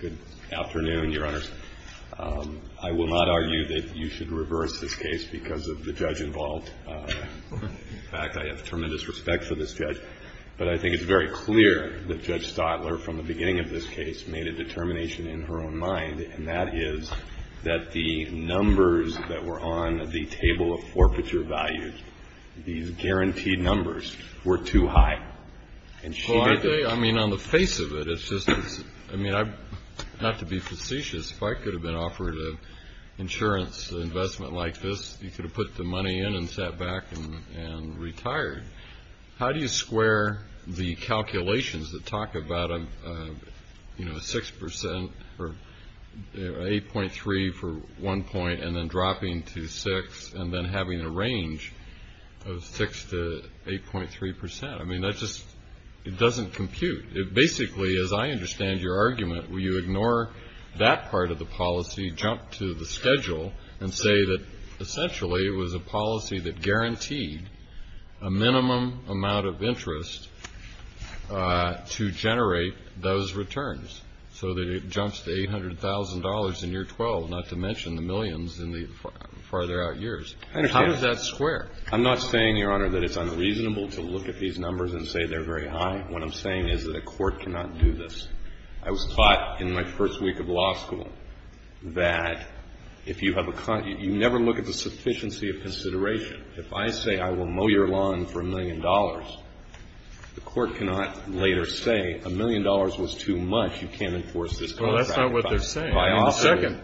Good afternoon, Your Honors. I will not argue that you should reverse this case because of the judge involved. In fact, I have tremendous respect for this judge, but I think it's very clear that Judge Stotler, from the beginning of this case, made a determination in her own mind, and that is that the numbers that were on the table of forfeiture values, these guaranteed numbers, were too high. Well, I mean, on the face of it, it's just, I mean, not to be facetious, if I could have been offered an insurance investment like this, you could have put the money in and sat back and retired. How do you square the calculations that talk about a 6% or 8.3 for one point and then dropping to 6 and then having a range of 6 to 8.3%? I mean, that's just, it doesn't compute. It basically, as I understand your argument, will you ignore that part of the policy, jump to the schedule, and say that essentially it was a policy that guaranteed a minimum amount of interest to generate those returns so that it jumps to $800,000 in year 12, not to mention the millions in the farther out years? How does that square? I'm not saying, Your Honor, that it's unreasonable to look at these numbers and say they're very high. What I'm saying is that a court cannot do this. I was taught in my first week of law school that if you have a con you never look at the sufficiency of consideration. If I say I will mow your lawn for a million dollars, the court cannot later say a million dollars was too much, you can't enforce this contract. Well, that's not what they're saying.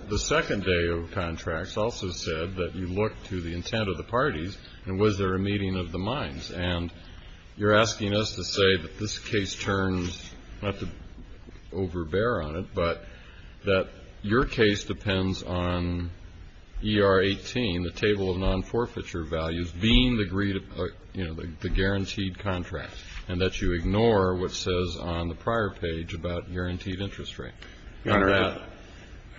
The second day of contracts also said that you look to the intent of the parties and was there a meeting of the minds. And you're asking us to say that this case turns, not to overbear on it, but that your case depends on ER 18, the table of non-forfeiture values, being the guaranteed contract, and that you ignore what says on the prior page about guaranteed interest rate.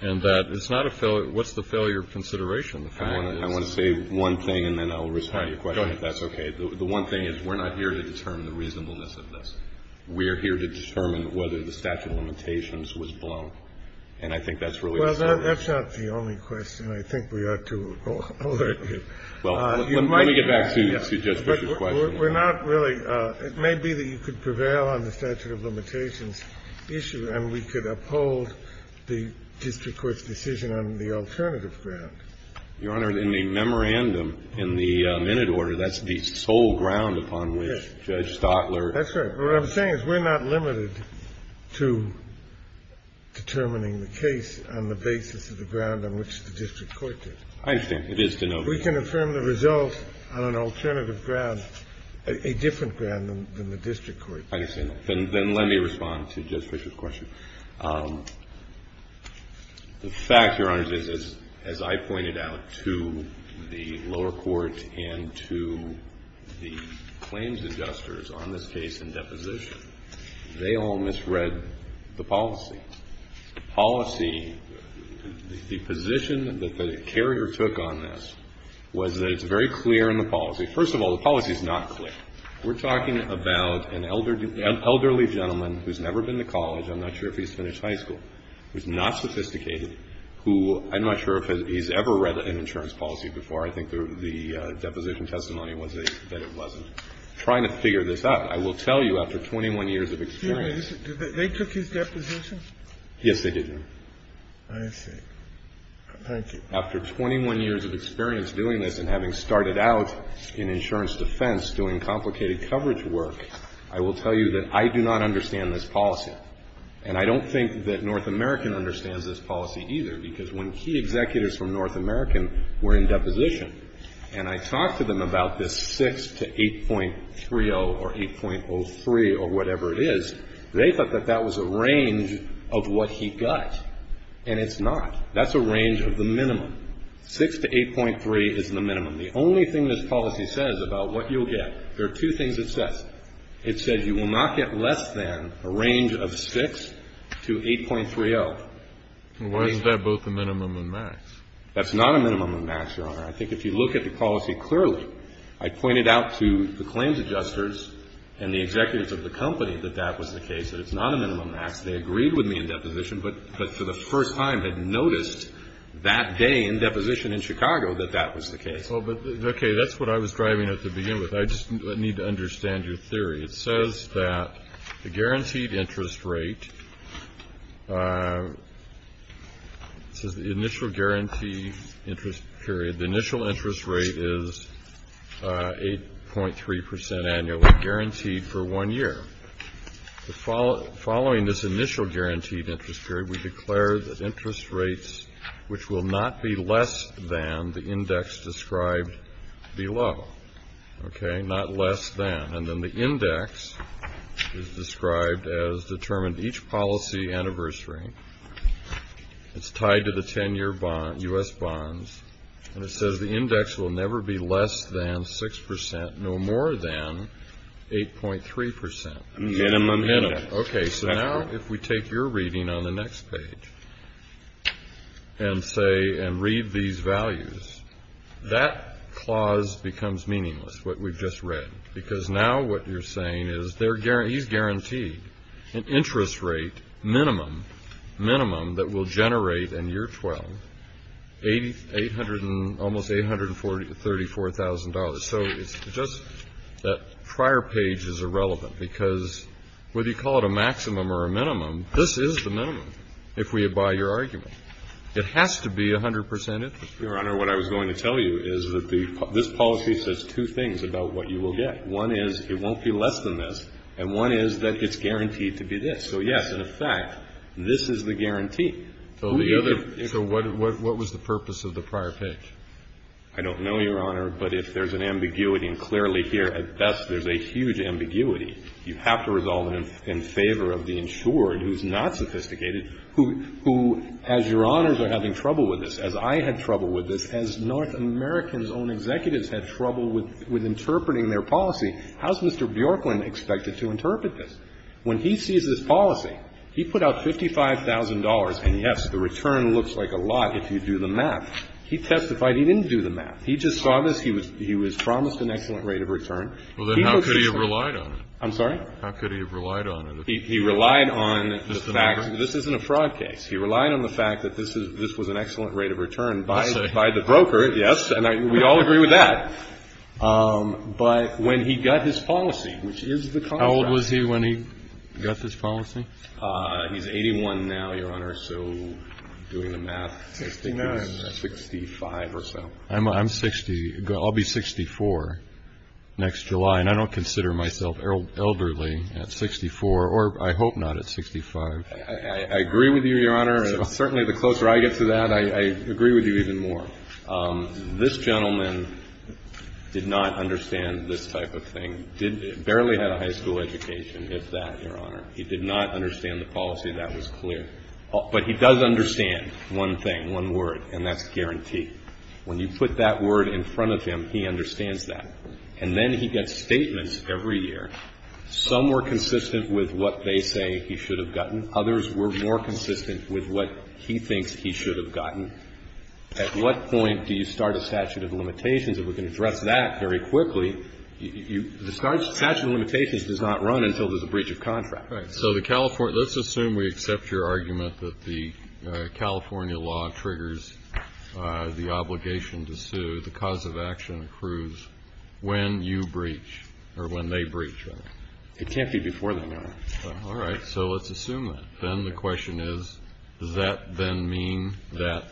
And that it's not a failure. What's the failure of consideration? I want to say one thing and then I'll respond to your question. That's OK. The one thing is we're not here to determine the reasonableness of this. We're here to determine whether the statute of limitations was blown. And I think that's really well, that's not the only question. I think we are, too. Well, let me get back to the question. We're not really. It may be that you could prevail on the statute of limitations issue and we could uphold the district court's decision on the alternative ground. Your Honor, in the memorandum, in the minute order, that's the sole ground upon which Judge Stotler. That's right. What I'm saying is we're not limited to determining the case on the basis of the ground on which the district court did. I think it is to know. If we can affirm the results on an alternative ground, a different ground than the district court. I understand. Then let me respond to Judge Fischer's question. The fact, Your Honor, is as I pointed out to the lower court and to the claims adjusters on this case in deposition, they all misread the policy. The position that the carrier took on this was that it's very clear in the policy. First of all, the policy is not clear. We're talking about an elderly gentleman who's never been to college. I'm not sure if he's finished high school. He's not sophisticated. I'm not sure if he's ever read an insurance policy before. I think the deposition testimony was that it wasn't. Trying to figure this out. I will tell you after 21 years of experience. They took his deposition? Yes, they did, Your Honor. I see. Thank you. After 21 years of experience doing this and having started out in insurance defense doing complicated coverage work, I will tell you that I do not understand this policy. And I don't think that North American understands this policy either, because when key executives from North American were in deposition, and I talked to them about this policy, they thought that it was a range of what he got. And it's not. That's a range of the minimum. 6 to 8.3 is the minimum. The only thing this policy says about what you'll get, there are two things it says. It says you will not get less than a range of 6 to 8.30. Why is that both a minimum and max? That's not a minimum and max, Your Honor. I think if you look at the policy clearly, I pointed out to the claims adjusters and the executives of the company that that was the case, that it's not a minimum and max. They agreed with me in deposition, but for the first time had noticed that day in deposition in Chicago that that was the case. Okay. That's what I was driving at to begin with. I just need to understand your theory. It says that the guaranteed interest rate, it says the initial guarantee interest period, the initial interest rate is 8.3% annually guaranteed for one year. Following this initial guaranteed interest period, we declare that interest rates, which will not be less than the index described below, okay, not less than. And then the index is described as determined each policy anniversary. It's tied to the 10-year bond, U.S. bonds. And it says the index will never be less than 6%, no more than 8.3%. Minimum. Minimum. Okay. So now if we take your reading on the next page and say and read these values, that clause becomes meaningless, what we've just read. Because now what you're saying is he's guaranteed an interest rate minimum, minimum that will generate in year 12 almost $834,000. So it's just that prior page is irrelevant because whether you call it a maximum or a minimum, this is the minimum if we abide your argument. It has to be 100% interest rate. Your Honor, what I was going to tell you is that this policy says two things about what you will get. One is it won't be less than this. And one is that it's guaranteed to be this. So, yes, in effect, this is the guarantee. So what was the purpose of the prior page? I don't know, Your Honor, but if there's an ambiguity, and clearly here at best there's a huge ambiguity. You have to resolve it in favor of the insured who's not sophisticated, who, as Your Honors, are having trouble with this, as I had trouble with this, as North American's own executives had trouble with interpreting their policy. How's Mr. Bjorkman expected to interpret this? When he sees this policy, he put out $55,000, and, yes, the return looks like a lot if you do the math. He testified he didn't do the math. He just saw this. He was promised an excellent rate of return. He was just sort of ---- Well, then how could he have relied on it? I'm sorry? How could he have relied on it? He relied on the facts. This isn't a fraud case. He relied on the fact that this was an excellent rate of return by the broker, yes, and we all agree with that. But when he got his policy, which is the contract ---- How old was he when he got this policy? He's 81 now, Your Honor, so doing the math, I think he was 65 or so. I'm 60. I'll be 64 next July, and I don't consider myself elderly at 64, or I hope not at 65. I agree with you, Your Honor. Certainly the closer I get to that, I agree with you even more. This gentleman did not understand this type of thing. Barely had a high school education, if that, Your Honor. He did not understand the policy. That was clear. But he does understand one thing, one word, and that's guarantee. When you put that word in front of him, he understands that. And then he gets statements every year. Some were consistent with what they say he should have gotten. Others were more consistent with what he thinks he should have gotten. At what point do you start a statute of limitations? If we can address that very quickly, the statute of limitations does not run until there's a breach of contract. Right. So the California ---- let's assume we accept your argument that the California law triggers the obligation to sue, the cause of action accrues when you breach or when they breach. It can't be before that, Your Honor. All right. So let's assume that. Then the question is, does that then mean that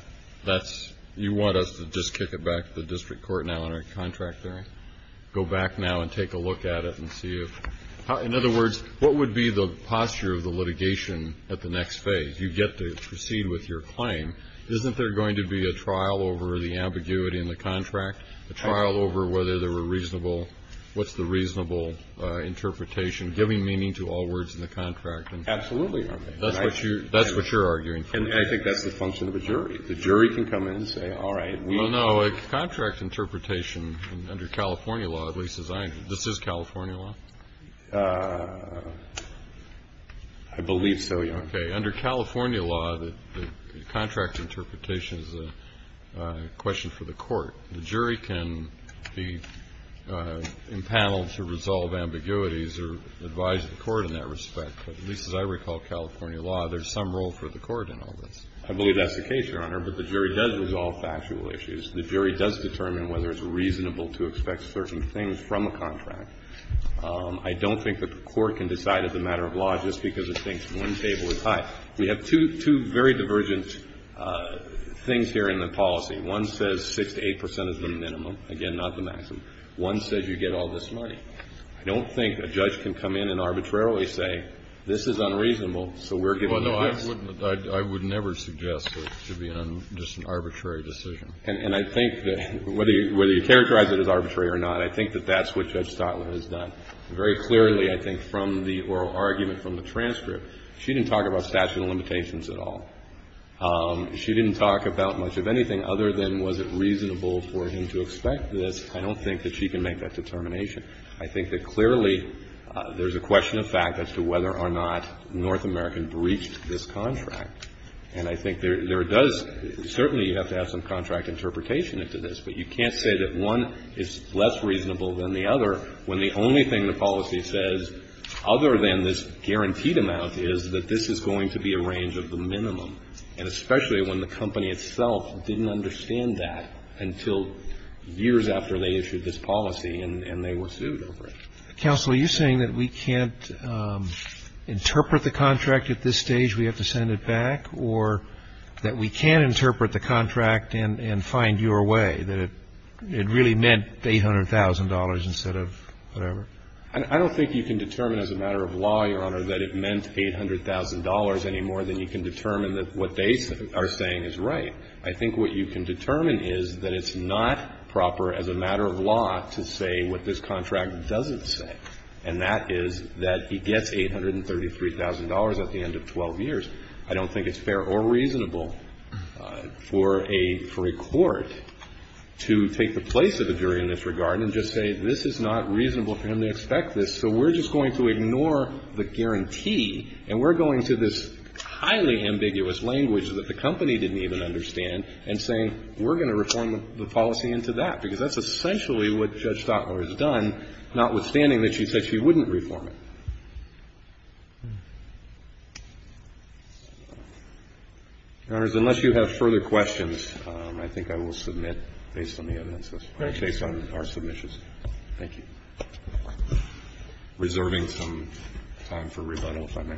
that's ---- you want us to just kick it back to the district court now in our contract hearing, go back now and take a look at it and see if ---- in other words, what would be the posture of the litigation at the next phase? You get to proceed with your claim. Isn't there going to be a trial over the ambiguity in the contract, a trial over whether they were reasonable? What's the reasonable interpretation, giving meaning to all words in the contract? Absolutely, Your Honor. That's what you're arguing for. And I think that's the function of a jury. The jury can come in and say, all right, we'll ---- Well, no. A contract interpretation under California law, at least as I understand it, this is California law? I believe so, Your Honor. Under California law, the contract interpretation is a question for the court. The jury can be impaneled to resolve ambiguities or advise the court in that respect. But at least as I recall California law, there's some role for the court in all this. I believe that's the case, Your Honor. But the jury does resolve factual issues. The jury does determine whether it's reasonable to expect certain things from a contract. I don't think that the court can decide as a matter of law just because it thinks one table is high. We have two very divergent things here in the policy. One says 6 to 8 percent is the minimum. Again, not the maximum. One says you get all this money. I don't think a judge can come in and arbitrarily say, this is unreasonable, so we're giving you this. Well, no, I would never suggest that it should be just an arbitrary decision. And I think that whether you characterize it as arbitrary or not, I think that that's what Judge Stockland has done. Very clearly, I think, from the oral argument from the transcript, she didn't talk about statute of limitations at all. She didn't talk about much of anything other than was it reasonable for him to expect this. I don't think that she can make that determination. I think that clearly there's a question of fact as to whether or not North American breached this contract. And I think there does – certainly you have to have some contract interpretation into this. But you can't say that one is less reasonable than the other when the only thing the policy says other than this guaranteed amount is that this is going to be a range of the minimum, and especially when the company itself didn't understand that until years after they issued this policy and they were sued over it. Counsel, are you saying that we can't interpret the contract at this stage, we have to send it back, or that we can interpret the contract and find your way, that it really meant $800,000 instead of whatever? I don't think you can determine as a matter of law, Your Honor, that it meant $800,000 any more than you can determine that what they are saying is right. I think what you can determine is that it's not proper as a matter of law to say what this contract doesn't say, and that is that he gets $833,000 at the end of 12 years. I don't think it's fair or reasonable for a court to take the place of a jury in this regard and just say this is not reasonable for him to expect this, so we're just going to ignore the guarantee, and we're going to this highly ambiguous language that the company didn't even understand and saying we're going to reform the policy into that, because that's essentially what Judge Stotler has done, notwithstanding that she said she wouldn't reform it. Your Honors, unless you have further questions, I think I will submit based on the evidence process, based on our submissions. Thank you. Reserving some time for rebuttal, if I may.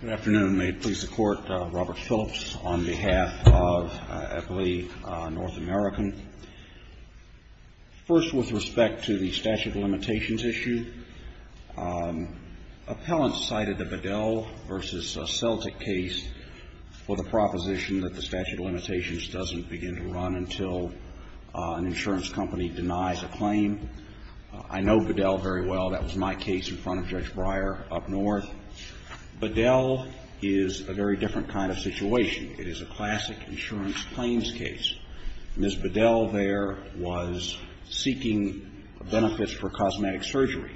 Good afternoon. May it please the Court. Robert Phillips on behalf of Eppley North American. First, with respect to the statute of limitations issue, appellants cited the Bedell v. Celtic case for the proposition that the statute of limitations doesn't begin to run until an insurance company denies a claim. I know Bedell very well. That was my case in front of Judge Breyer up north. Bedell is a very different kind of situation. It is a classic insurance claims case. Ms. Bedell there was seeking benefits for cosmetic surgery.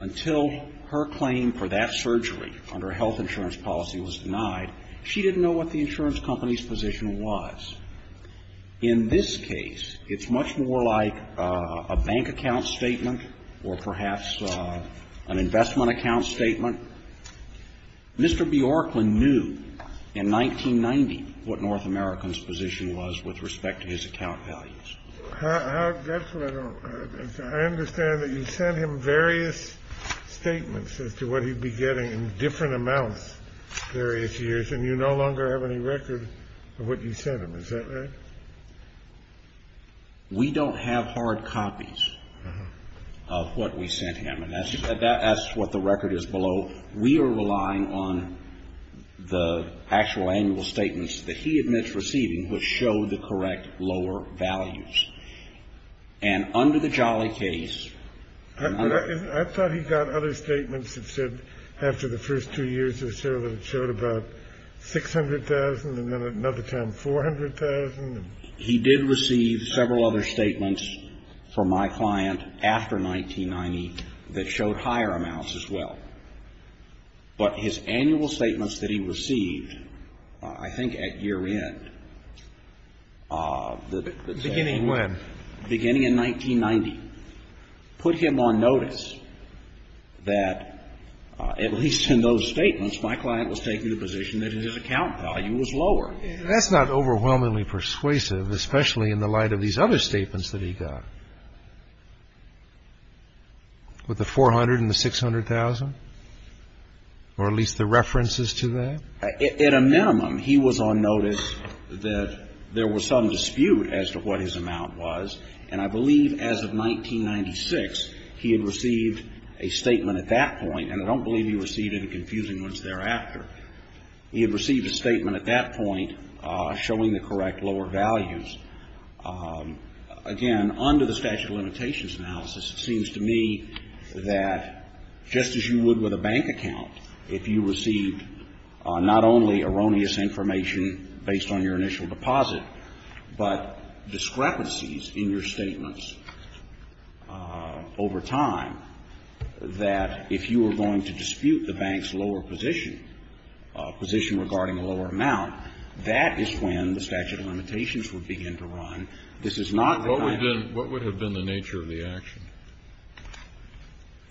Until her claim for that surgery under health insurance policy was denied, she didn't know what the insurance company's position was. In this case, it's much more like a bank account statement or perhaps an investment account statement. Mr. Bjorklund knew in 1990 what North America's position was with respect to his account values. I understand that you sent him various statements as to what he'd be getting in different amounts various years, and you no longer have any record of what you sent him. Is that right? We don't have hard copies of what we sent him. And that's what the record is below. We are relying on the actual annual statements that he admits receiving which show the correct lower values. And under the Jolly case... I thought he got other statements that said after the first two years or so that it showed about $600,000 and then another time $400,000. He did receive several other statements from my client after 1990 that showed higher amounts as well. But his annual statements that he received, I think at year end, the... Beginning when? Beginning in 1990, put him on notice that at least in those statements, my client was taking the position that his account value was lower. That's not overwhelmingly persuasive, especially in the light of these other statements that he got. With the $400,000 and the $600,000? Or at least the references to that? At a minimum, he was on notice that there was some dispute as to what his amount was, and I believe as of 1996, he had received a statement at that point, and I don't believe he received any confusing ones thereafter. He had received a statement at that point showing the correct lower values. Again, under the statute of limitations analysis, it seems to me that just as you would with a bank account, if you received not only erroneous information based on your initial deposit, but discrepancies in your statements over time, that if you were going to dispute the bank's lower position, position regarding a lower amount, that is when the statute of limitations would begin to run. This is not the time. Kennedy. What would have been the nature of the action?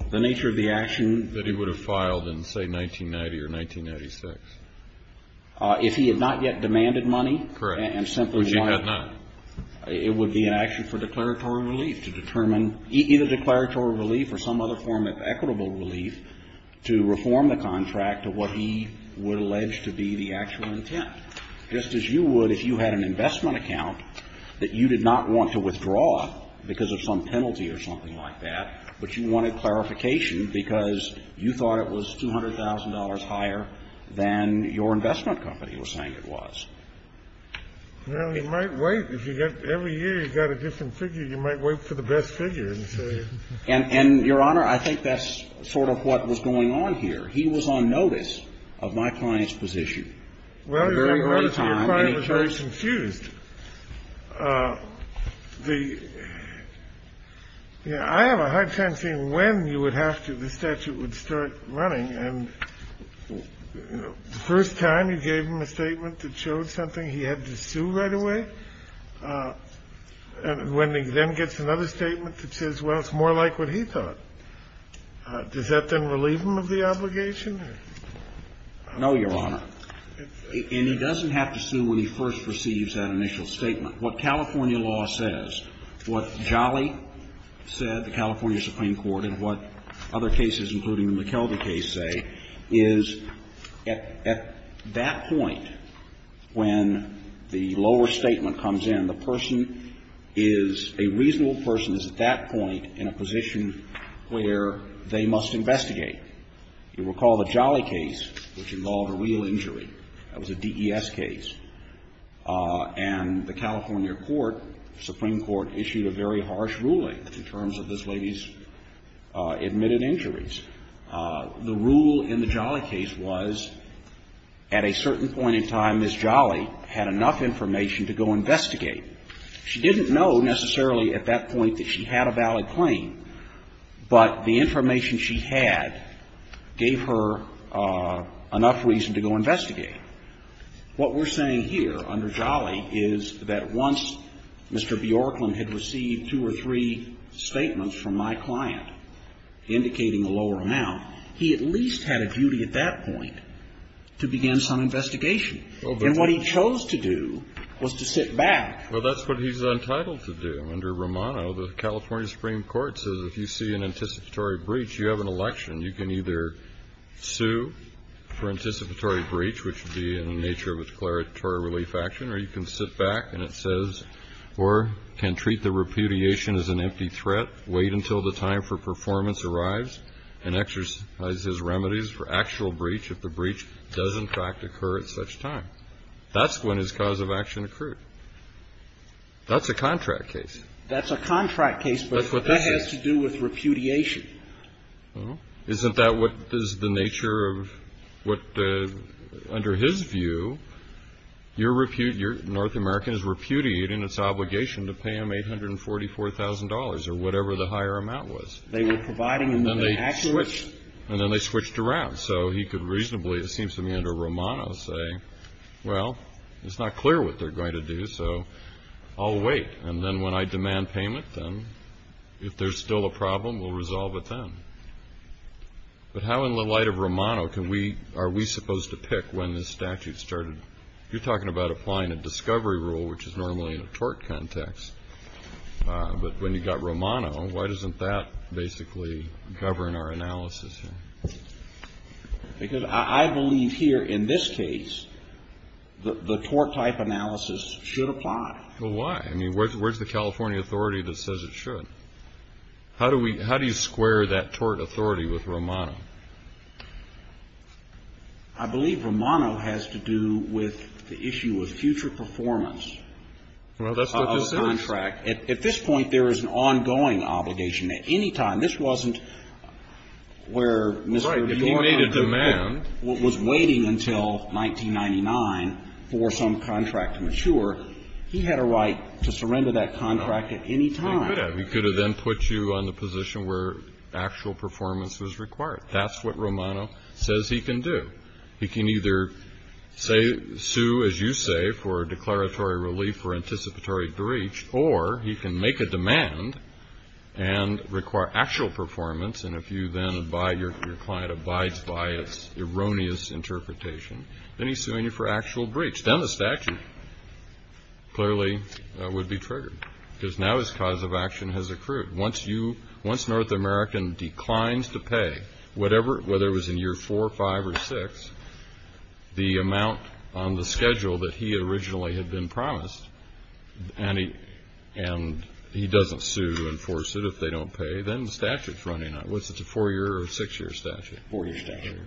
The nature of the action? That he would have filed in, say, 1990 or 1996. If he had not yet demanded money? Correct. And simply why? Which he had not. It would be an action for declaratory relief to determine, either declaratory relief or some other form of equitable relief, to reform the contract to what he would Now, if you were going to dispute the bank's lower position, it seems to me that just as you would if you had an investment account that you did not want to withdraw because of some penalty or something like that, but you wanted clarification because you thought it was $200,000 higher than your investment company was saying it was. Well, you might wait. If you get every year, you've got a different figure. You might wait for the best figure. And, Your Honor, I think that's sort of what was going on here. He was on notice of my client's position. Well, your client was very confused. I have a hard time seeing when you would have to the statute would start running. And the first time you gave him a statement that showed something, he had to sue right away? And when he then gets another statement that says, well, it's more like what he thought, does that then relieve him of the obligation? No, Your Honor. And he doesn't have to sue when he first receives that initial statement. What California law says, what Jolly said, the California Supreme Court, and what other cases, including the McKelvey case, say, is at that point, when the lower statement comes in, the person is, a reasonable person is at that point in a position where they must investigate. You recall the Jolly case, which involved a real injury. That was a DES case. And the California court, Supreme Court, issued a very harsh ruling in terms of this The rule in the Jolly case was, at a certain point in time, Ms. Jolly had enough information to go investigate. She didn't know necessarily at that point that she had a valid claim, but the information she had gave her enough reason to go investigate. What we're saying here under Jolly is that once Mr. Bjorklund had received two or three statements from my client indicating a lower amount, he at least had a duty at that point to begin some investigation. And what he chose to do was to sit back. Well, that's what he's entitled to do under Romano. The California Supreme Court says if you see an anticipatory breach, you have an election. You can either sue for anticipatory breach, which would be in the nature of a declaratory relief action, or you can sit back and it says, or can treat the repudiation as an empty threat, wait until the time for performance arrives, and exercise his remedies for actual breach if the breach does, in fact, occur at such time. That's when his cause of action occurred. That's a contract case. That's a contract case, but that has to do with repudiation. Isn't that what is the nature of what, under his view, your repudiation, North America is repudiated in its obligation to pay him $844,000 or whatever the higher amount was. They were providing him the actual amount. And then they switched around. So he could reasonably, it seems to me under Romano, say, well, it's not clear what they're going to do, so I'll wait. And then when I demand payment, then, if there's still a problem, we'll resolve it then. But how in the light of Romano are we supposed to pick when the statute started? You're talking about applying a discovery rule, which is normally in a tort context. But when you got Romano, why doesn't that basically govern our analysis here? Because I believe here in this case the tort type analysis should apply. Well, why? I mean, where's the California authority that says it should? How do you square that tort authority with Romano? I believe Romano has to do with the issue of future performance of a contract. Well, that's what this is. At this point, there is an ongoing obligation. At any time, this wasn't where Mr. Romano was waiting until 1999 for some contract to mature. He had a right to surrender that contract at any time. He could have. He could have then put you on the position where actual performance was required. That's what Romano says he can do. He can either say, sue, as you say, for declaratory relief or anticipatory breach, or he can make a demand and require actual performance. And if you then abide, your client abides by its erroneous interpretation, then he's suing you for actual breach. Then the statute clearly would be triggered, because now his cause of action has accrued. Once you ñ once North American declines to pay whatever ñ whether it was in year 4, 5, or 6, the amount on the schedule that he originally had been promised, and he doesn't sue and force it if they don't pay, then the statute's running out. Was it a four-year or a six-year statute? Four-year statute.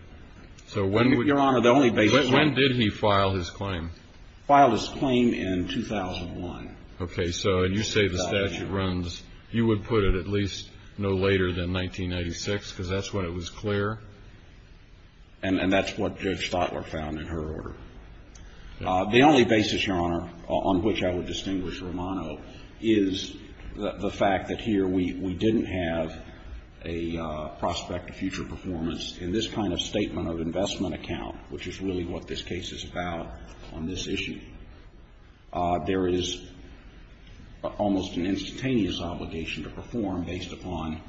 Your Honor, the only basis ñ When did he file his claim? Filed his claim in 2001. Okay. So you say the statute runs ñ you would put it at least no later than 1996, because that's when it was clear? And that's what Judge Stotler found in her order. The only basis, Your Honor, on which I would distinguish Romano is the fact that here we didn't have a prospect of future performance in this kind of statement of investment account, which is really what this case is about on this issue. There is almost an instantaneous obligation to perform based upon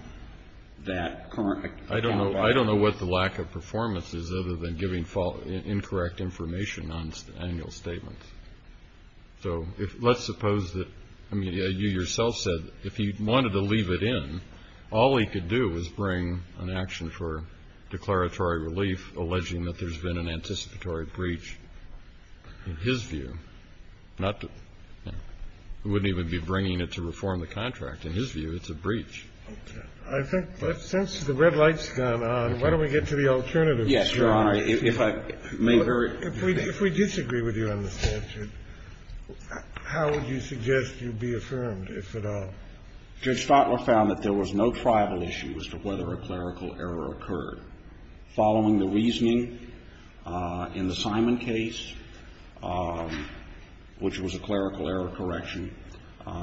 that current account of that. I don't know what the lack of performance is other than giving incorrect information on annual statements. So let's suppose that ñ I mean, you yourself said if he wanted to leave it in, all he could do is bring an action for declaratory relief alleging that there's been an anticipatory breach in his view, not to ñ he wouldn't even be bringing it to reform the contract. In his view, it's a breach. Okay. I think since the red light's gone on, why don't we get to the alternatives? Yes, Your Honor. If I may very ñ If we disagree with you on the statute, how would you suggest you be affirmed, if at all? Judge Stotler found that there was no tribal issue as to whether a clerical error occurred. Following the reasoning in the Simon case, which was a clerical error correction,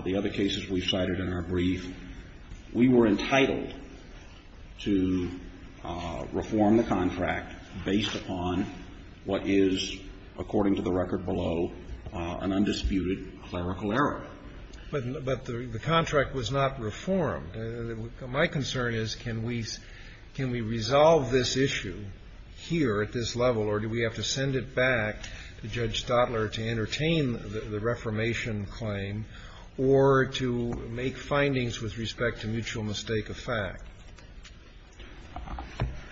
the other cases we cited in our brief, we were entitled to reform the contract based upon what is, according to the record below, an undisputed clerical error. But the contract was not reformed. My concern is can we ñ can we resolve this issue here at this level, or do we have to send it back to Judge Stotler to entertain the reformation claim, or to make findings with respect to mutual mistake of fact?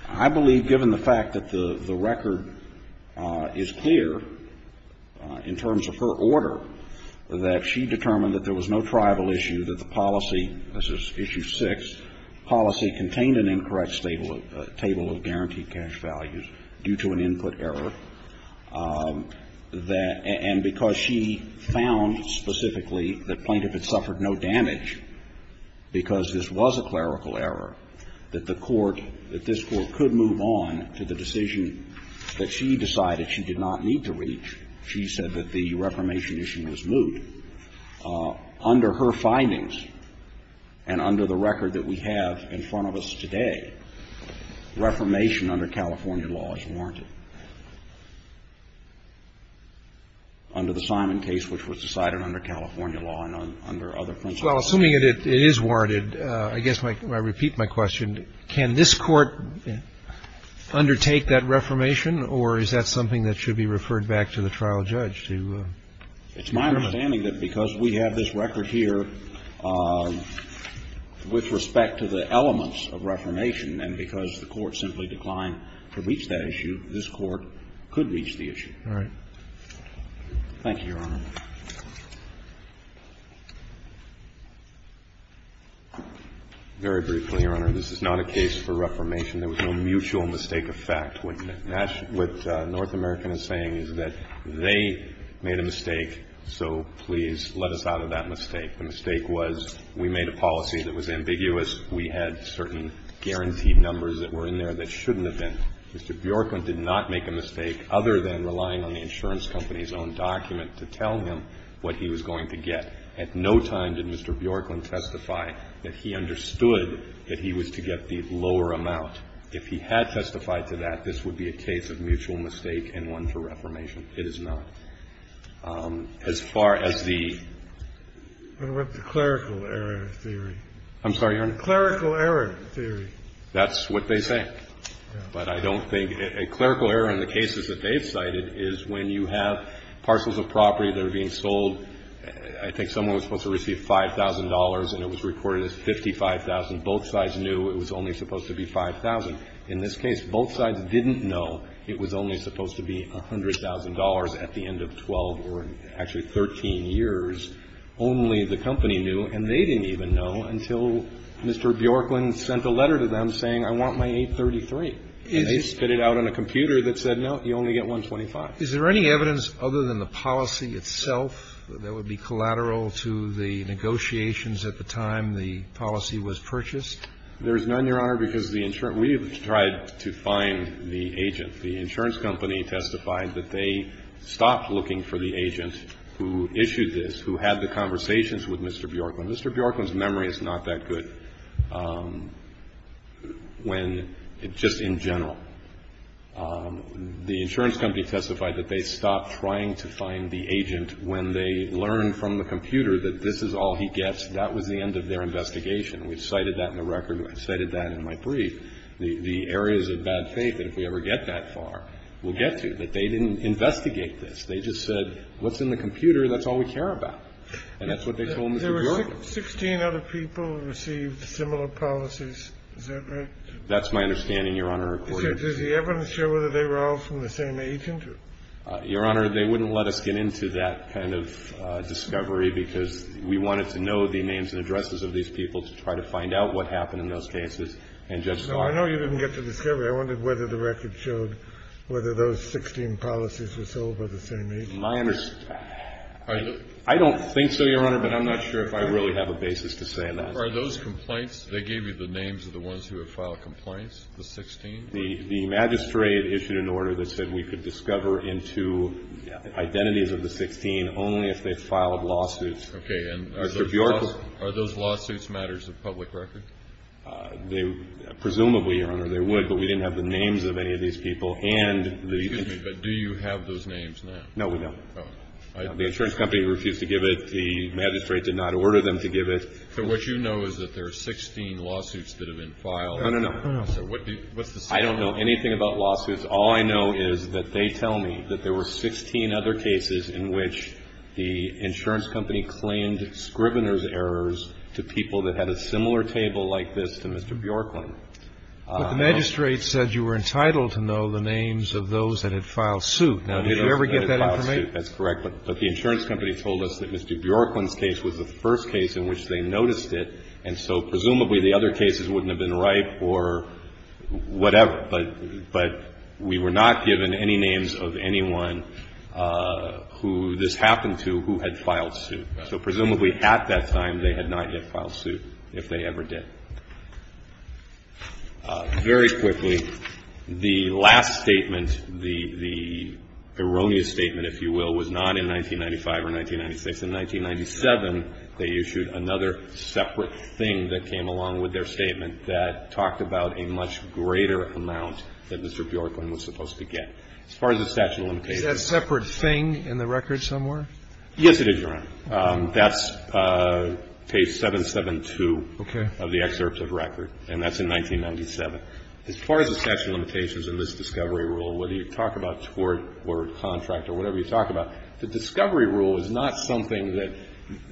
I believe, given the fact that the record is clear in terms of her order, that she determined that there was no tribal issue, that the policy ñ this is issue 6 ñ policy contained an incorrect table of guaranteed cash values due to an input error, and because she found specifically that plaintiff had suffered no damage because this was a clerical error, that the court ñ that this Court could move on to the decision that she decided she did not need to reach. She said that the reformation issue was moot. Under her findings and under the record that we have in front of us today, reformation under California law is warranted, under the Simon case, which was decided under California law and under other principles. Well, assuming it is warranted, I guess I repeat my question. Can this Court undertake that reformation, or is that something that should be referred back to the trial judge to ñ It's my understanding that because we have this record here with respect to the elements of reformation, and because the Court simply declined to reach that issue, this Court could reach the issue. All right. Thank you, Your Honor. Very briefly, Your Honor, this is not a case for reformation. There was no mutual mistake of fact. What North American is saying is that they made a mistake, so please let us out of that mistake. The mistake was we made a policy that was ambiguous. We had certain guaranteed numbers that were in there that shouldn't have been. Mr. Bjorken did not make a mistake, other than relying on the insurance company's own document to tell him what he was going to get. At no time did Mr. Bjorken testify that he understood that he was to get the lower amount. If he had testified to that, this would be a case of mutual mistake and one for reformation. It is not. As far as the ñ What about the clerical error theory? I'm sorry, Your Honor. Clerical error theory. That's what they say. But I don't think ñ clerical error in the cases that they've cited is when you have parcels of property that are being sold. I think someone was supposed to receive $5,000, and it was recorded as 55,000. Both sides knew it was only supposed to be 5,000. In this case, both sides didn't know it was only supposed to be $100,000 at the end of 12 or actually 13 years. Only the company knew, and they didn't even know until Mr. Bjorken sent a letter to them saying, I want my 833. And they spit it out on a computer that said, no, you only get 125. Is there any evidence other than the policy itself that would be collateral to the negotiations at the time the policy was purchased? There is none, Your Honor, because the insurance ñ we have tried to find the agent. The insurance company testified that they stopped looking for the agent who issued this, who had the conversations with Mr. Bjorken. Mr. Bjorken's memory is not that good. But when ñ just in general, the insurance company testified that they stopped trying to find the agent when they learned from the computer that this is all he gets. That was the end of their investigation. We've cited that in the record. I cited that in my brief. The areas of bad faith that if we ever get that far, we'll get to, that they didn't investigate this. They just said, what's in the computer, that's all we care about. And that's what they told Mr. Bjorken. Sixteen other people received similar policies. Is that right? That's my understanding, Your Honor. Does the evidence show whether they were all from the same agent? Your Honor, they wouldn't let us get into that kind of discovery because we wanted to know the names and addresses of these people to try to find out what happened in those cases. And Judge Scott ñ No, I know you didn't get to the discovery. I wondered whether the record showed whether those 16 policies were sold by the same agent. My ñ I don't think so, Your Honor. But I'm not sure if I really have a basis to say that. Are those complaints ñ they gave you the names of the ones who have filed complaints, the 16? The magistrate issued an order that said we could discover into identities of the 16 only if they filed lawsuits. Okay. And are those lawsuits matters of public record? Presumably, Your Honor, they would. But we didn't have the names of any of these people. And the ñ Excuse me, but do you have those names now? No, we don't. The insurance company refused to give it. The magistrate did not order them to give it. So what you know is that there are 16 lawsuits that have been filed. No, no, no. So what's the summary? I don't know anything about lawsuits. All I know is that they tell me that there were 16 other cases in which the insurance company claimed Scrivener's errors to people that had a similar table like this to Mr. Bjorkman. But the magistrate said you were entitled to know the names of those that had filed Now, did you ever get that information? That's correct. But the insurance company told us that Mr. Bjorkman's case was the first case in which they noticed it. And so presumably the other cases wouldn't have been ripe or whatever. But we were not given any names of anyone who this happened to who had filed suit. So presumably at that time they had not yet filed suit, if they ever did. Very quickly, the last statement, the erroneous statement, if you will, was not in 1995 or 1996. In 1997, they issued another separate thing that came along with their statement that talked about a much greater amount that Mr. Bjorkman was supposed to get. As far as the statute of limitations. Is that separate thing in the record somewhere? Yes, it is, Your Honor. That's page 772. Okay. Of the excerpts of record. And that's in 1997. As far as the statute of limitations in this discovery rule, whether you talk about tort or contract or whatever you talk about, the discovery rule is not something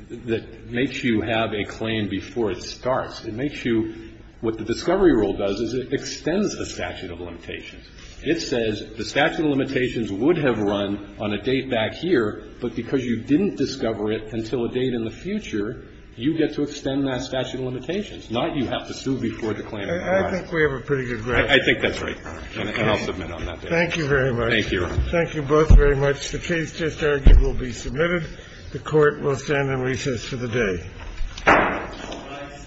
that makes you have a claim before it starts. It makes you what the discovery rule does is it extends the statute of limitations. It says the statute of limitations would have run on a date back here, but because you didn't discover it until a date in the future, you get to extend that statute of limitations, not you have to sue before the claim. I think we have a pretty good grasp. I think that's right. And I'll submit on that. Thank you very much. Thank you, Your Honor. Thank you both very much. The case just argued will be submitted. The Court will stand in recess for the day.